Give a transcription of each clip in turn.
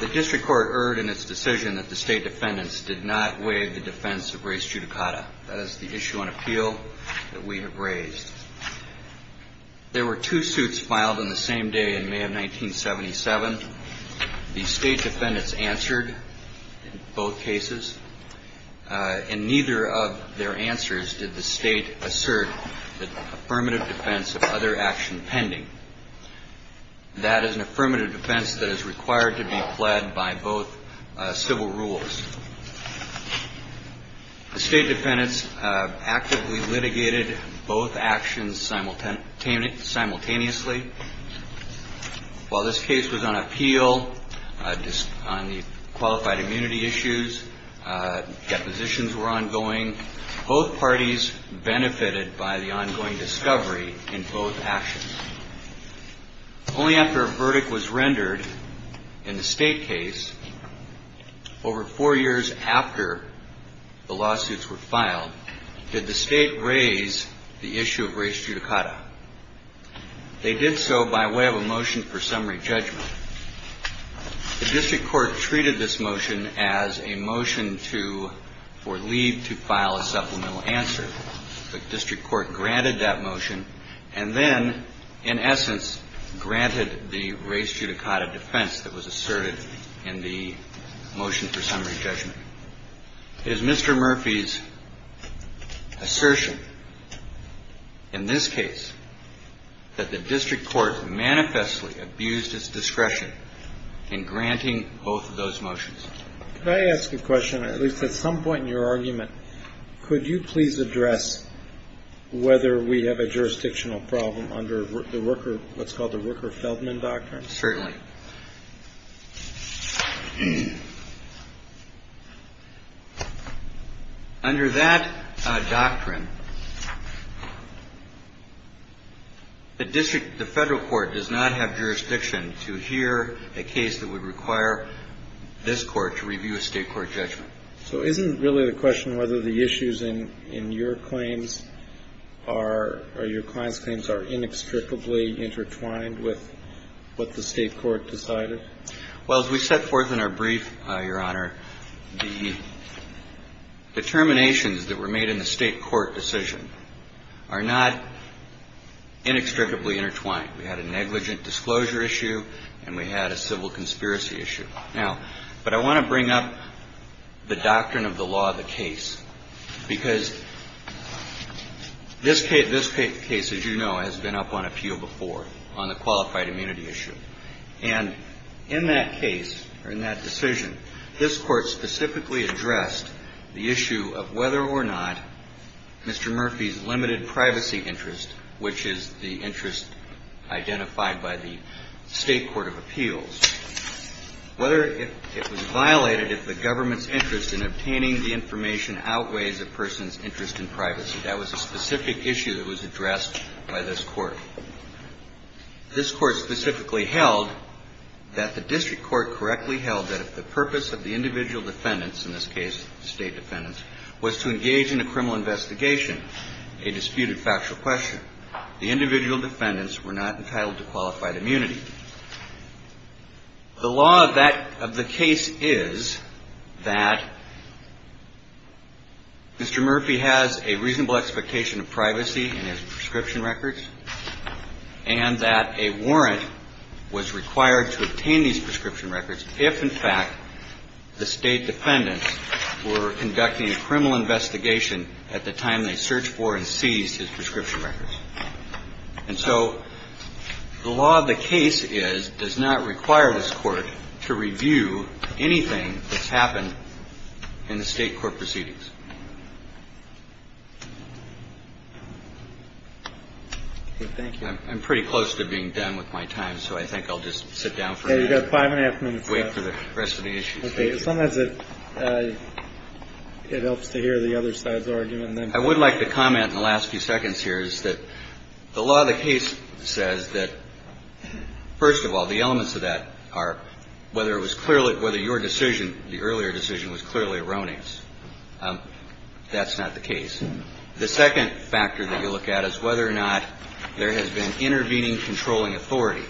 The District Court erred in its decision that the State Defendants did not waive the defense of race judicata. That is the issue on appeal that we have raised. There were two suits filed on the same day in May of 1977. The State Defendants answered in both cases. In neither of their answers did the State assert the affirmative defense of other action pending. That is an affirmative defense that is required to be pled by both civil rules. The State Defendants actively litigated both actions simultaneously. While this case was on appeal, on the qualified immunity issues, depositions were ongoing. Both parties benefited by the ongoing discovery in both actions. Only after a verdict was rendered in the State case, over four years after the lawsuits were filed, did the State raise the issue of race judicata. They did so by way of a motion for summary judgment. The District Court treated this motion as a motion for leave to file a supplemental answer. The District Court granted that motion and then, in essence, granted the race judicata defense that was asserted in the motion for summary judgment. It is Mr. Murphy's assertion in this case that the District Court manifestly abused its discretion in granting both of those motions. Could I ask a question? At least at some point in your argument, could you please address whether we have a jurisdictional problem under the worker what's called the Worker-Feldman Doctrine? Certainly. Under that doctrine, the District, the Federal Court does not have jurisdiction to hear a case that would require this Court to review a State court judgment. So isn't really the question whether the issues in your claims are or your client's are intertwined with what the State court decided? Well, as we set forth in our brief, Your Honor, the determinations that were made in the State court decision are not inextricably intertwined. We had a negligent disclosure issue and we had a civil conspiracy issue. Now, but I want to bring up the doctrine of the law of the case. Because this case, as you know, has been up on appeal before on the qualified immunity issue. And in that case, or in that decision, this Court specifically addressed the issue of whether or not Mr. Murphy's limited privacy interest, which is the interest identified by the State court of appeals, whether it was privacy. That was a specific issue that was addressed by this Court. This Court specifically held that the District Court correctly held that if the purpose of the individual defendants, in this case State defendants, was to engage in a criminal investigation, a disputed factual question, the individual defendants were not entitled to qualified immunity. The law of the case is that Mr. Murphy has a reasonable expectation of privacy in his prescription records and that a warrant was required to obtain these prescription records if, in fact, the State defendants were conducting a criminal investigation at the time they searched for and seized his prescription records. And so the law of the case is, does not require this Court to review anything that's happened in the State court proceedings. Thank you. I'm pretty close to being done with my time, so I think I'll just sit down for a minute. You've got five and a half minutes left. Wait for the rest of the issues. Okay. Sometimes it helps to hear the other side's argument. I would like to comment in the last few seconds here is that the law of the case says that, first of all, the elements of that are whether it was clearly whether your decision, the earlier decision, was clearly erroneous. That's not the case. The second factor that you look at is whether or not there has been intervening controlling authority.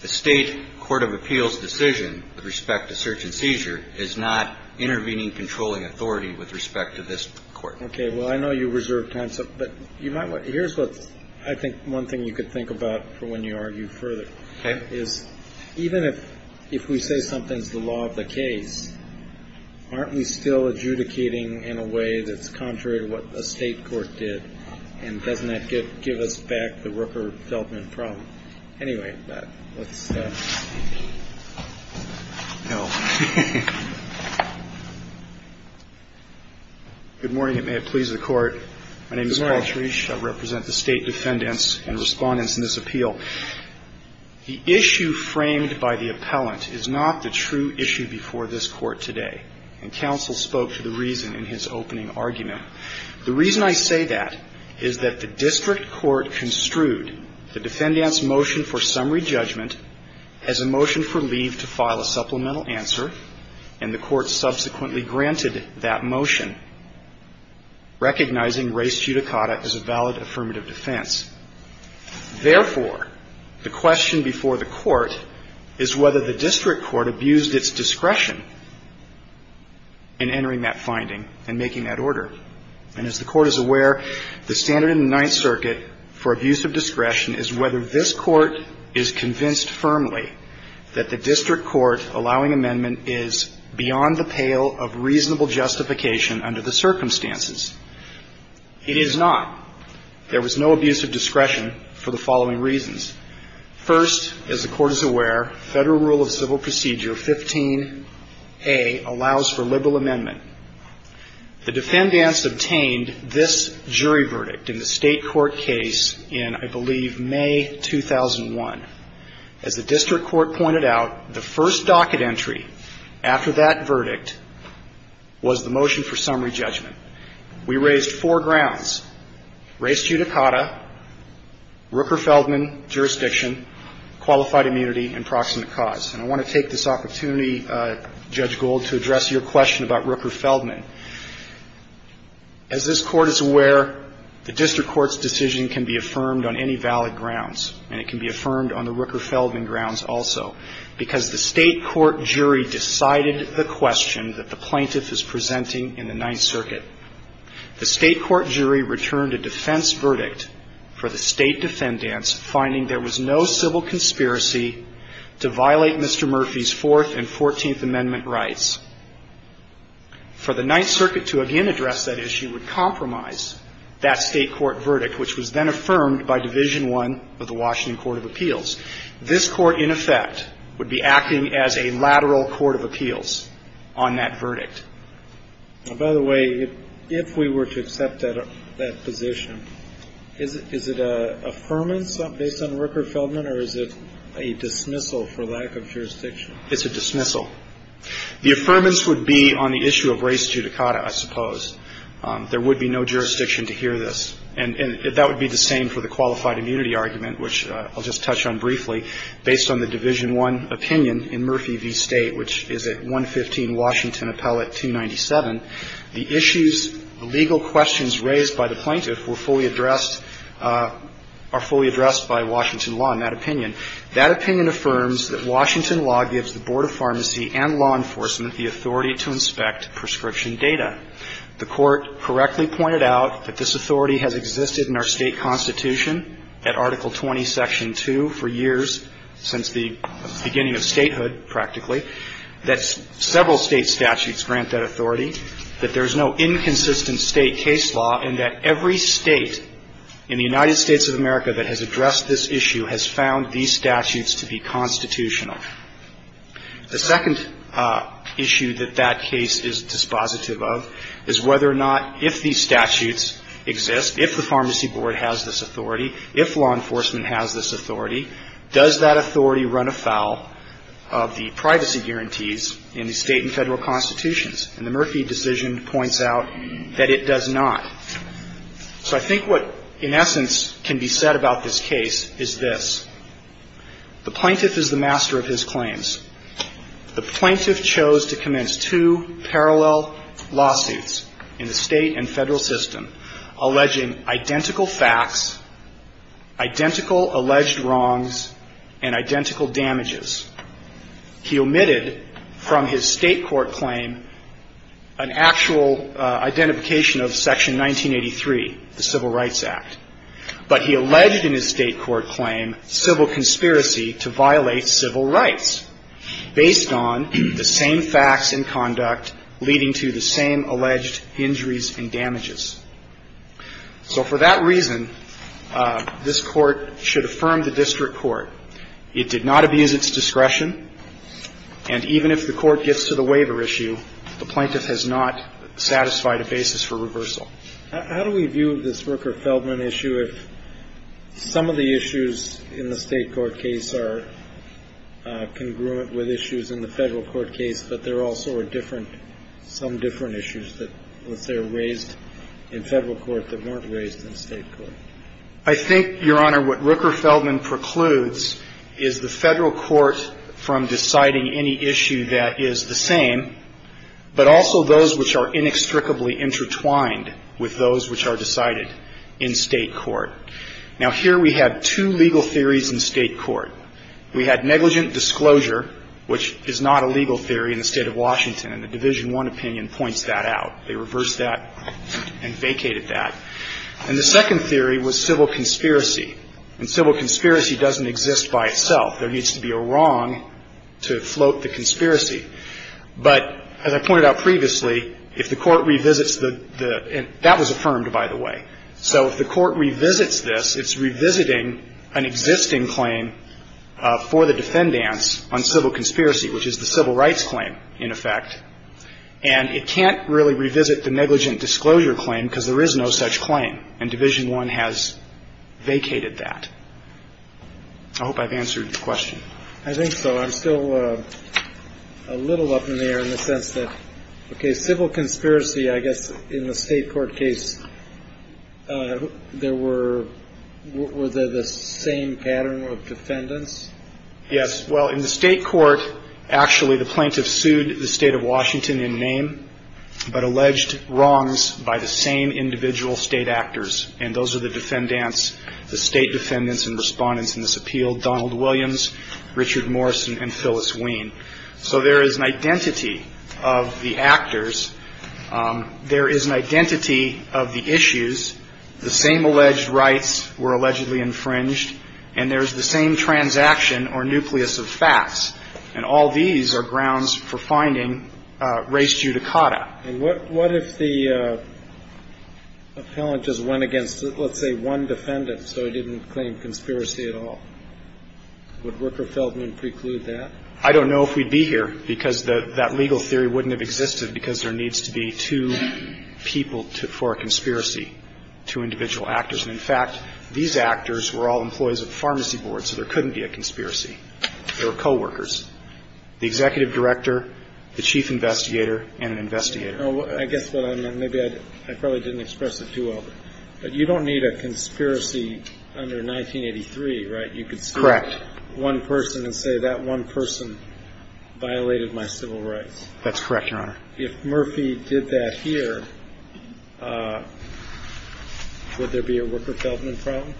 The State court of appeals decision with respect to search and seizure is not intervening controlling authority with respect to this court. Okay. Well, I know you reserved time, but here's what I think one thing you could think about for when you argue further. Okay. Is even if we say something's the law of the case, aren't we still adjudicating in a way that's contrary to what a State court did? And doesn't that give us back the worker dealt with in the problem? Anyway, but let's... No. Good morning. It may have pleased the court. My name is Paul Cherish. I represent the State defendants and respondents in this appeal. The issue framed by the appellant is not the true issue before this court today, and counsel spoke to the reason in his opening argument. The reason I say that is that the district court construed the defendant's motion for summary judgment as a motion for leave to file a supplemental answer, and the court subsequently granted that motion, recognizing res judicata as a valid affirmative defense. Therefore, the question before the court is whether the district court abused its discretion in entering that finding and making that order. And as the court is aware, the standard in the Ninth Circuit for abuse of discretion is whether this court is convinced firmly that the district court allowing amendment is beyond the pale of reasonable justification under the circumstances. It is not. There was no abuse of discretion for the following reasons. First, as the court is aware, Federal Rule of Civil Procedure 15A allows for liberal amendment. The defendants obtained this jury verdict in the State court case in, I believe, May 2001. As the district court pointed out, the first docket entry after that verdict was the motion for summary judgment. We raised four grounds, res judicata, Rooker-Feldman jurisdiction, qualified immunity, and proximate cause. And I want to take this opportunity, Judge Gould, to address your question about Rooker-Feldman. As this court is aware, the district court's decision can be affirmed on any valid grounds, and it can be affirmed on the Rooker-Feldman grounds also, because the State court jury decided the question that the plaintiff is presenting in the Ninth Circuit. The State court jury returned a defense verdict for the State defendants, finding there was no civil conspiracy to violate Mr. Murphy's Fourth and Fourteenth Amendment rights. For the Ninth Circuit to again address that issue would compromise that State court verdict, which was then affirmed by Division I of the Washington Court of Appeals. This Court, in effect, would be acting as a lateral court of appeals on that verdict. By the way, if we were to accept that position, is it an affirmance based on Rooker-Feldman, or is it a dismissal for lack of jurisdiction? It's a dismissal. The affirmance would be on the issue of res judicata, I suppose. There would be no jurisdiction to hear this. And that would be the same for the qualified immunity argument, which I'll just touch on briefly, based on the Division I opinion in Murphy v. State, which is at 115 Washington Appellate 297. The issues, the legal questions raised by the plaintiff were fully addressed, are fully addressed by Washington law in that opinion. That opinion affirms that Washington law gives the Board of Pharmacy and law enforcement the authority to inspect prescription data. The Court correctly pointed out that this authority has existed in our State constitution at Article 20, Section 2 for years, since the beginning of statehood, practically, that several State statutes grant that authority, that there is no inconsistent State case law, and that every State in the United States of America that has addressed this issue has found these statutes to be constitutional. The second issue that that case is dispositive of is whether or not, if these statutes exist, if the Pharmacy Board has this authority, if law enforcement has this authority, does that authority run afoul of the privacy guarantees in the State and Federal constitutions? And the Murphy decision points out that it does not. So I think what, in essence, can be said about this case is this. The plaintiff is the master of his claims. The plaintiff chose to commence two parallel lawsuits in the State and Federal system, alleging identical facts, identical alleged wrongs, and identical damages. He omitted from his State court claim an actual identification of Section 1983, the Civil Rights Act. But he alleged in his State court claim civil conspiracy to violate civil rights, based on the same facts and conduct leading to the same alleged injuries and damages. So for that reason, this Court should affirm the district court. It did not abuse its discretion, and even if the Court gets to the waiver issue, the plaintiff has not satisfied a basis for reversal. How do we view this Rooker-Feldman issue if some of the issues in the State court case are congruent with issues in the Federal court case, but there also are different, some different issues that, let's say, are raised in Federal court that weren't raised in State court? I think, Your Honor, what Rooker-Feldman precludes is the Federal court from deciding any issue that is the same, but also those which are inextricably intertwined with those which are decided in State court. Now, here we have two legal theories in State court. We had negligent disclosure, which is not a legal theory in the State of Washington, and the Division I opinion points that out. They reversed that and vacated that. And the second theory was civil conspiracy, and civil conspiracy doesn't exist by itself. There needs to be a wrong to float the conspiracy. But as I pointed out previously, if the Court revisits the – that was affirmed, by the way. So if the Court revisits this, it's revisiting an existing claim for the defendants on civil conspiracy, which is the civil rights claim, in effect. And it can't really revisit the negligent disclosure claim because there is no such claim, and Division I has vacated that. I hope I've answered your question. I think so. I'm still a little up in the air in the sense that, okay, civil conspiracy, I guess, in the State court case, there were – were they the same pattern of defendants? Yes. Well, in the State court, actually, the plaintiff sued the State of Washington in name, but alleged wrongs by the same individual State actors, and those are the defendants, the State defendants and respondents in this appeal, Donald Williams, Richard Morrison, and Phyllis Wien. So there is an identity of the actors. There is an identity of the issues. The same alleged rights were allegedly infringed, and there's the same transaction or nucleus of facts. And all these are grounds for finding res judicata. And what if the appellant just went against, let's say, one defendant so he didn't claim conspiracy at all? Would Rooker-Feldman preclude that? I don't know if we'd be here because that legal theory wouldn't have existed because there needs to be two people for a conspiracy, two individual actors. And, in fact, these actors were all employees of the pharmacy board, so there couldn't be a conspiracy. They were coworkers. The executive director, the chief investigator, and an investigator. I guess what I meant, maybe I probably didn't express it too well, but you don't need a conspiracy under 1983, right? Correct. You could select one person and say that one person violated my civil rights. That's correct, Your Honor. If Murphy did that here, would there be a Rooker-Feldman problem?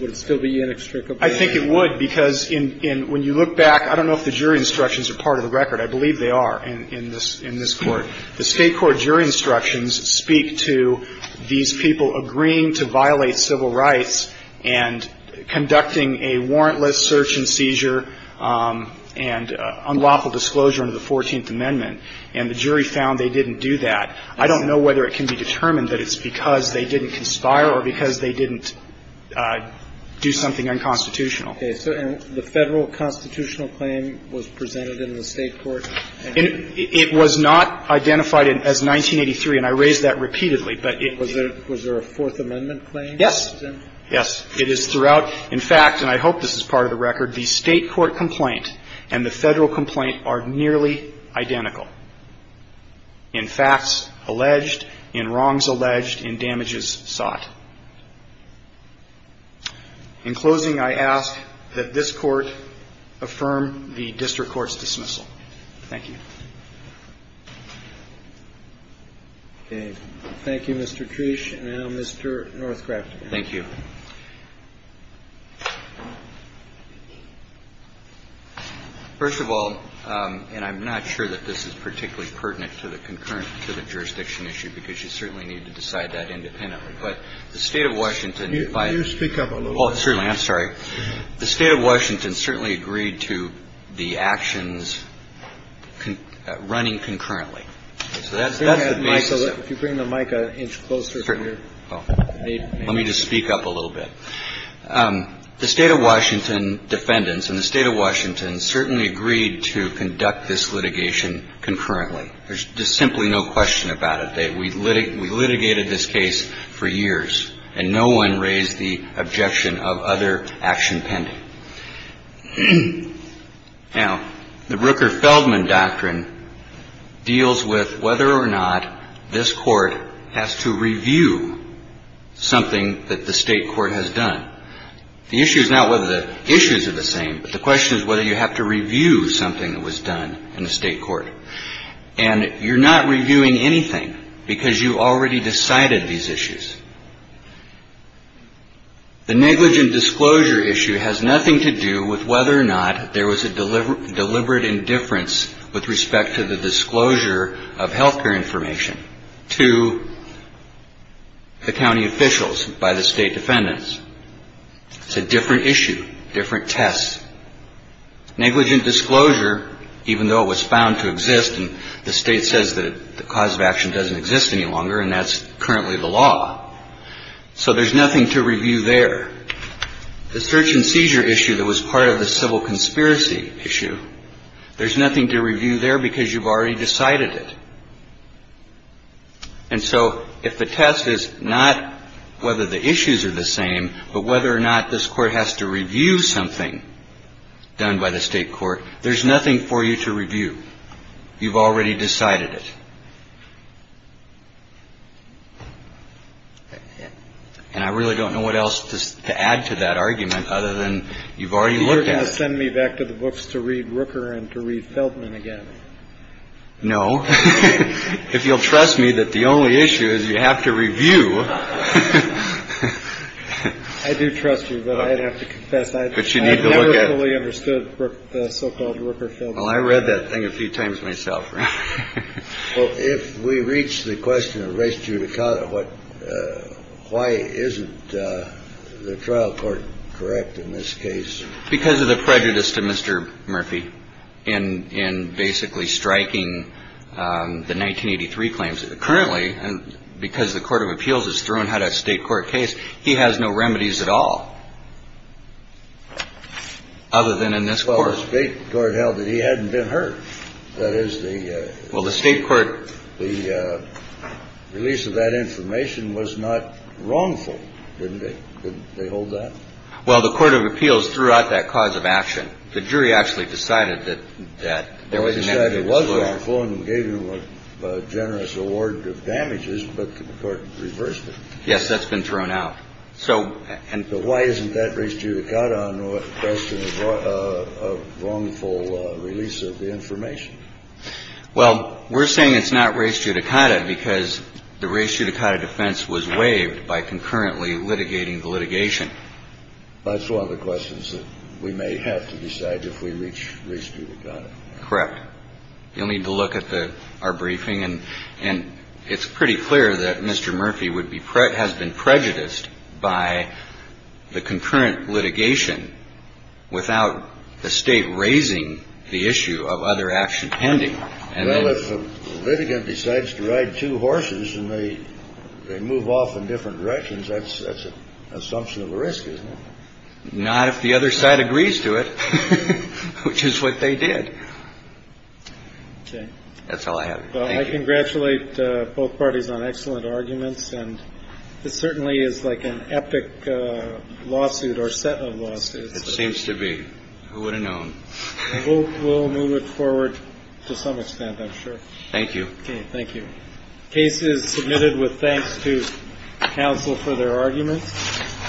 Would it still be inextricably linked? I think it would, because when you look back, I don't know if the jury instructions are part of the record. I believe they are in this Court. The State Court jury instructions speak to these people agreeing to violate civil rights and conducting a warrantless search and seizure and unlawful disclosure under the 14th Amendment, and the jury found they didn't do that. I don't know whether it can be determined that it's because they didn't conspire or because they didn't do something unconstitutional. Okay. So the Federal constitutional claim was presented in the State Court? It was not identified as 1983, and I raised that repeatedly. Was there a Fourth Amendment claim? Yes. Yes. It is throughout. In fact, and I hope this is part of the record, the State Court complaint and the Federal complaint are nearly identical in facts alleged, in wrongs alleged, in damages sought. In closing, I ask that this Court affirm the district court's dismissal. Thank you. Thank you, Mr. Trish. And now Mr. Northcraft. Thank you. First of all, and I'm not sure that this is particularly pertinent to the concurrent jurisdiction issue, because you certainly need to decide that independently. But the State of Washington defined. Can you speak up a little bit? Oh, certainly. I'm sorry. The State of Washington certainly agreed to the actions running concurrently. So that's the basis of it. If you bring the mic a inch closer. Let me just speak up a little bit. The State of Washington defendants and the State of Washington certainly agreed to conduct this litigation concurrently. There's just simply no question about it. We litigated this case for years. And no one raised the objection of other action pending. Now, the Rooker-Feldman doctrine deals with whether or not this Court has to review something that the State Court has done. The issue is not whether the issues are the same, but the question is whether you have to review something that was done in the State Court. And you're not reviewing anything because you already decided these issues. The negligent disclosure issue has nothing to do with whether or not there was a deliberate indifference with respect to the disclosure of health care information to the county officials by the State defendants. It's a different issue, different test. Negligent disclosure, even though it was found to exist and the State says that the cause of action doesn't exist any longer and that's currently the law. So there's nothing to review there. The search and seizure issue that was part of the civil conspiracy issue, there's nothing to review there because you've already decided it. And so if the test is not whether the issues are the same, but whether or not this Court has to review something done by the State court, there's nothing for you to review. You've already decided it. And I really don't know what else to add to that argument other than you've already looked at it. You're going to send me back to the books to read Rooker and to read Feldman again. No. If you'll trust me that the only issue is you have to review. I do trust you, but I'd have to confess. But you need to look at. I never fully understood the so-called Rooker-Feldman. Well, I read that thing a few times myself. Well, if we reach the question of race judicata, why isn't the trial court correct in this case? Because of the prejudice to Mr. Murphy in basically striking the 1983 claims. Currently, because the Court of Appeals has thrown out a state court case, he has no remedies at all. Other than in this court. Well, the state court held that he hadn't been hurt. That is the. Well, the state court. The release of that information was not wrongful. Didn't they hold that? Well, the Court of Appeals threw out that cause of action. The jury actually decided that there was. It was wrongful and gave him a generous award of damages, but the court reversed it. Yes, that's been thrown out. So. And why isn't that race judicata on the question of wrongful release of the information? Well, we're saying it's not race judicata because the race judicata defense was waived by concurrently litigating the litigation. That's one of the questions that we may have to decide if we reach race judicata. Correct. You'll need to look at our briefing, and it's pretty clear that Mr. Murphy has been prejudiced by the concurrent litigation without the state raising the issue of other action pending. The litigant decides to ride two horses and they move off in different directions. That's that's an assumption of risk, isn't it? Not if the other side agrees to it, which is what they did. OK. That's all I have. I congratulate both parties on excellent arguments. And this certainly is like an epic lawsuit or set of lawsuits. It seems to be. Who would have known? We'll move it forward to some extent, I'm sure. Thank you. Thank you. Case is submitted with thanks to counsel for their arguments.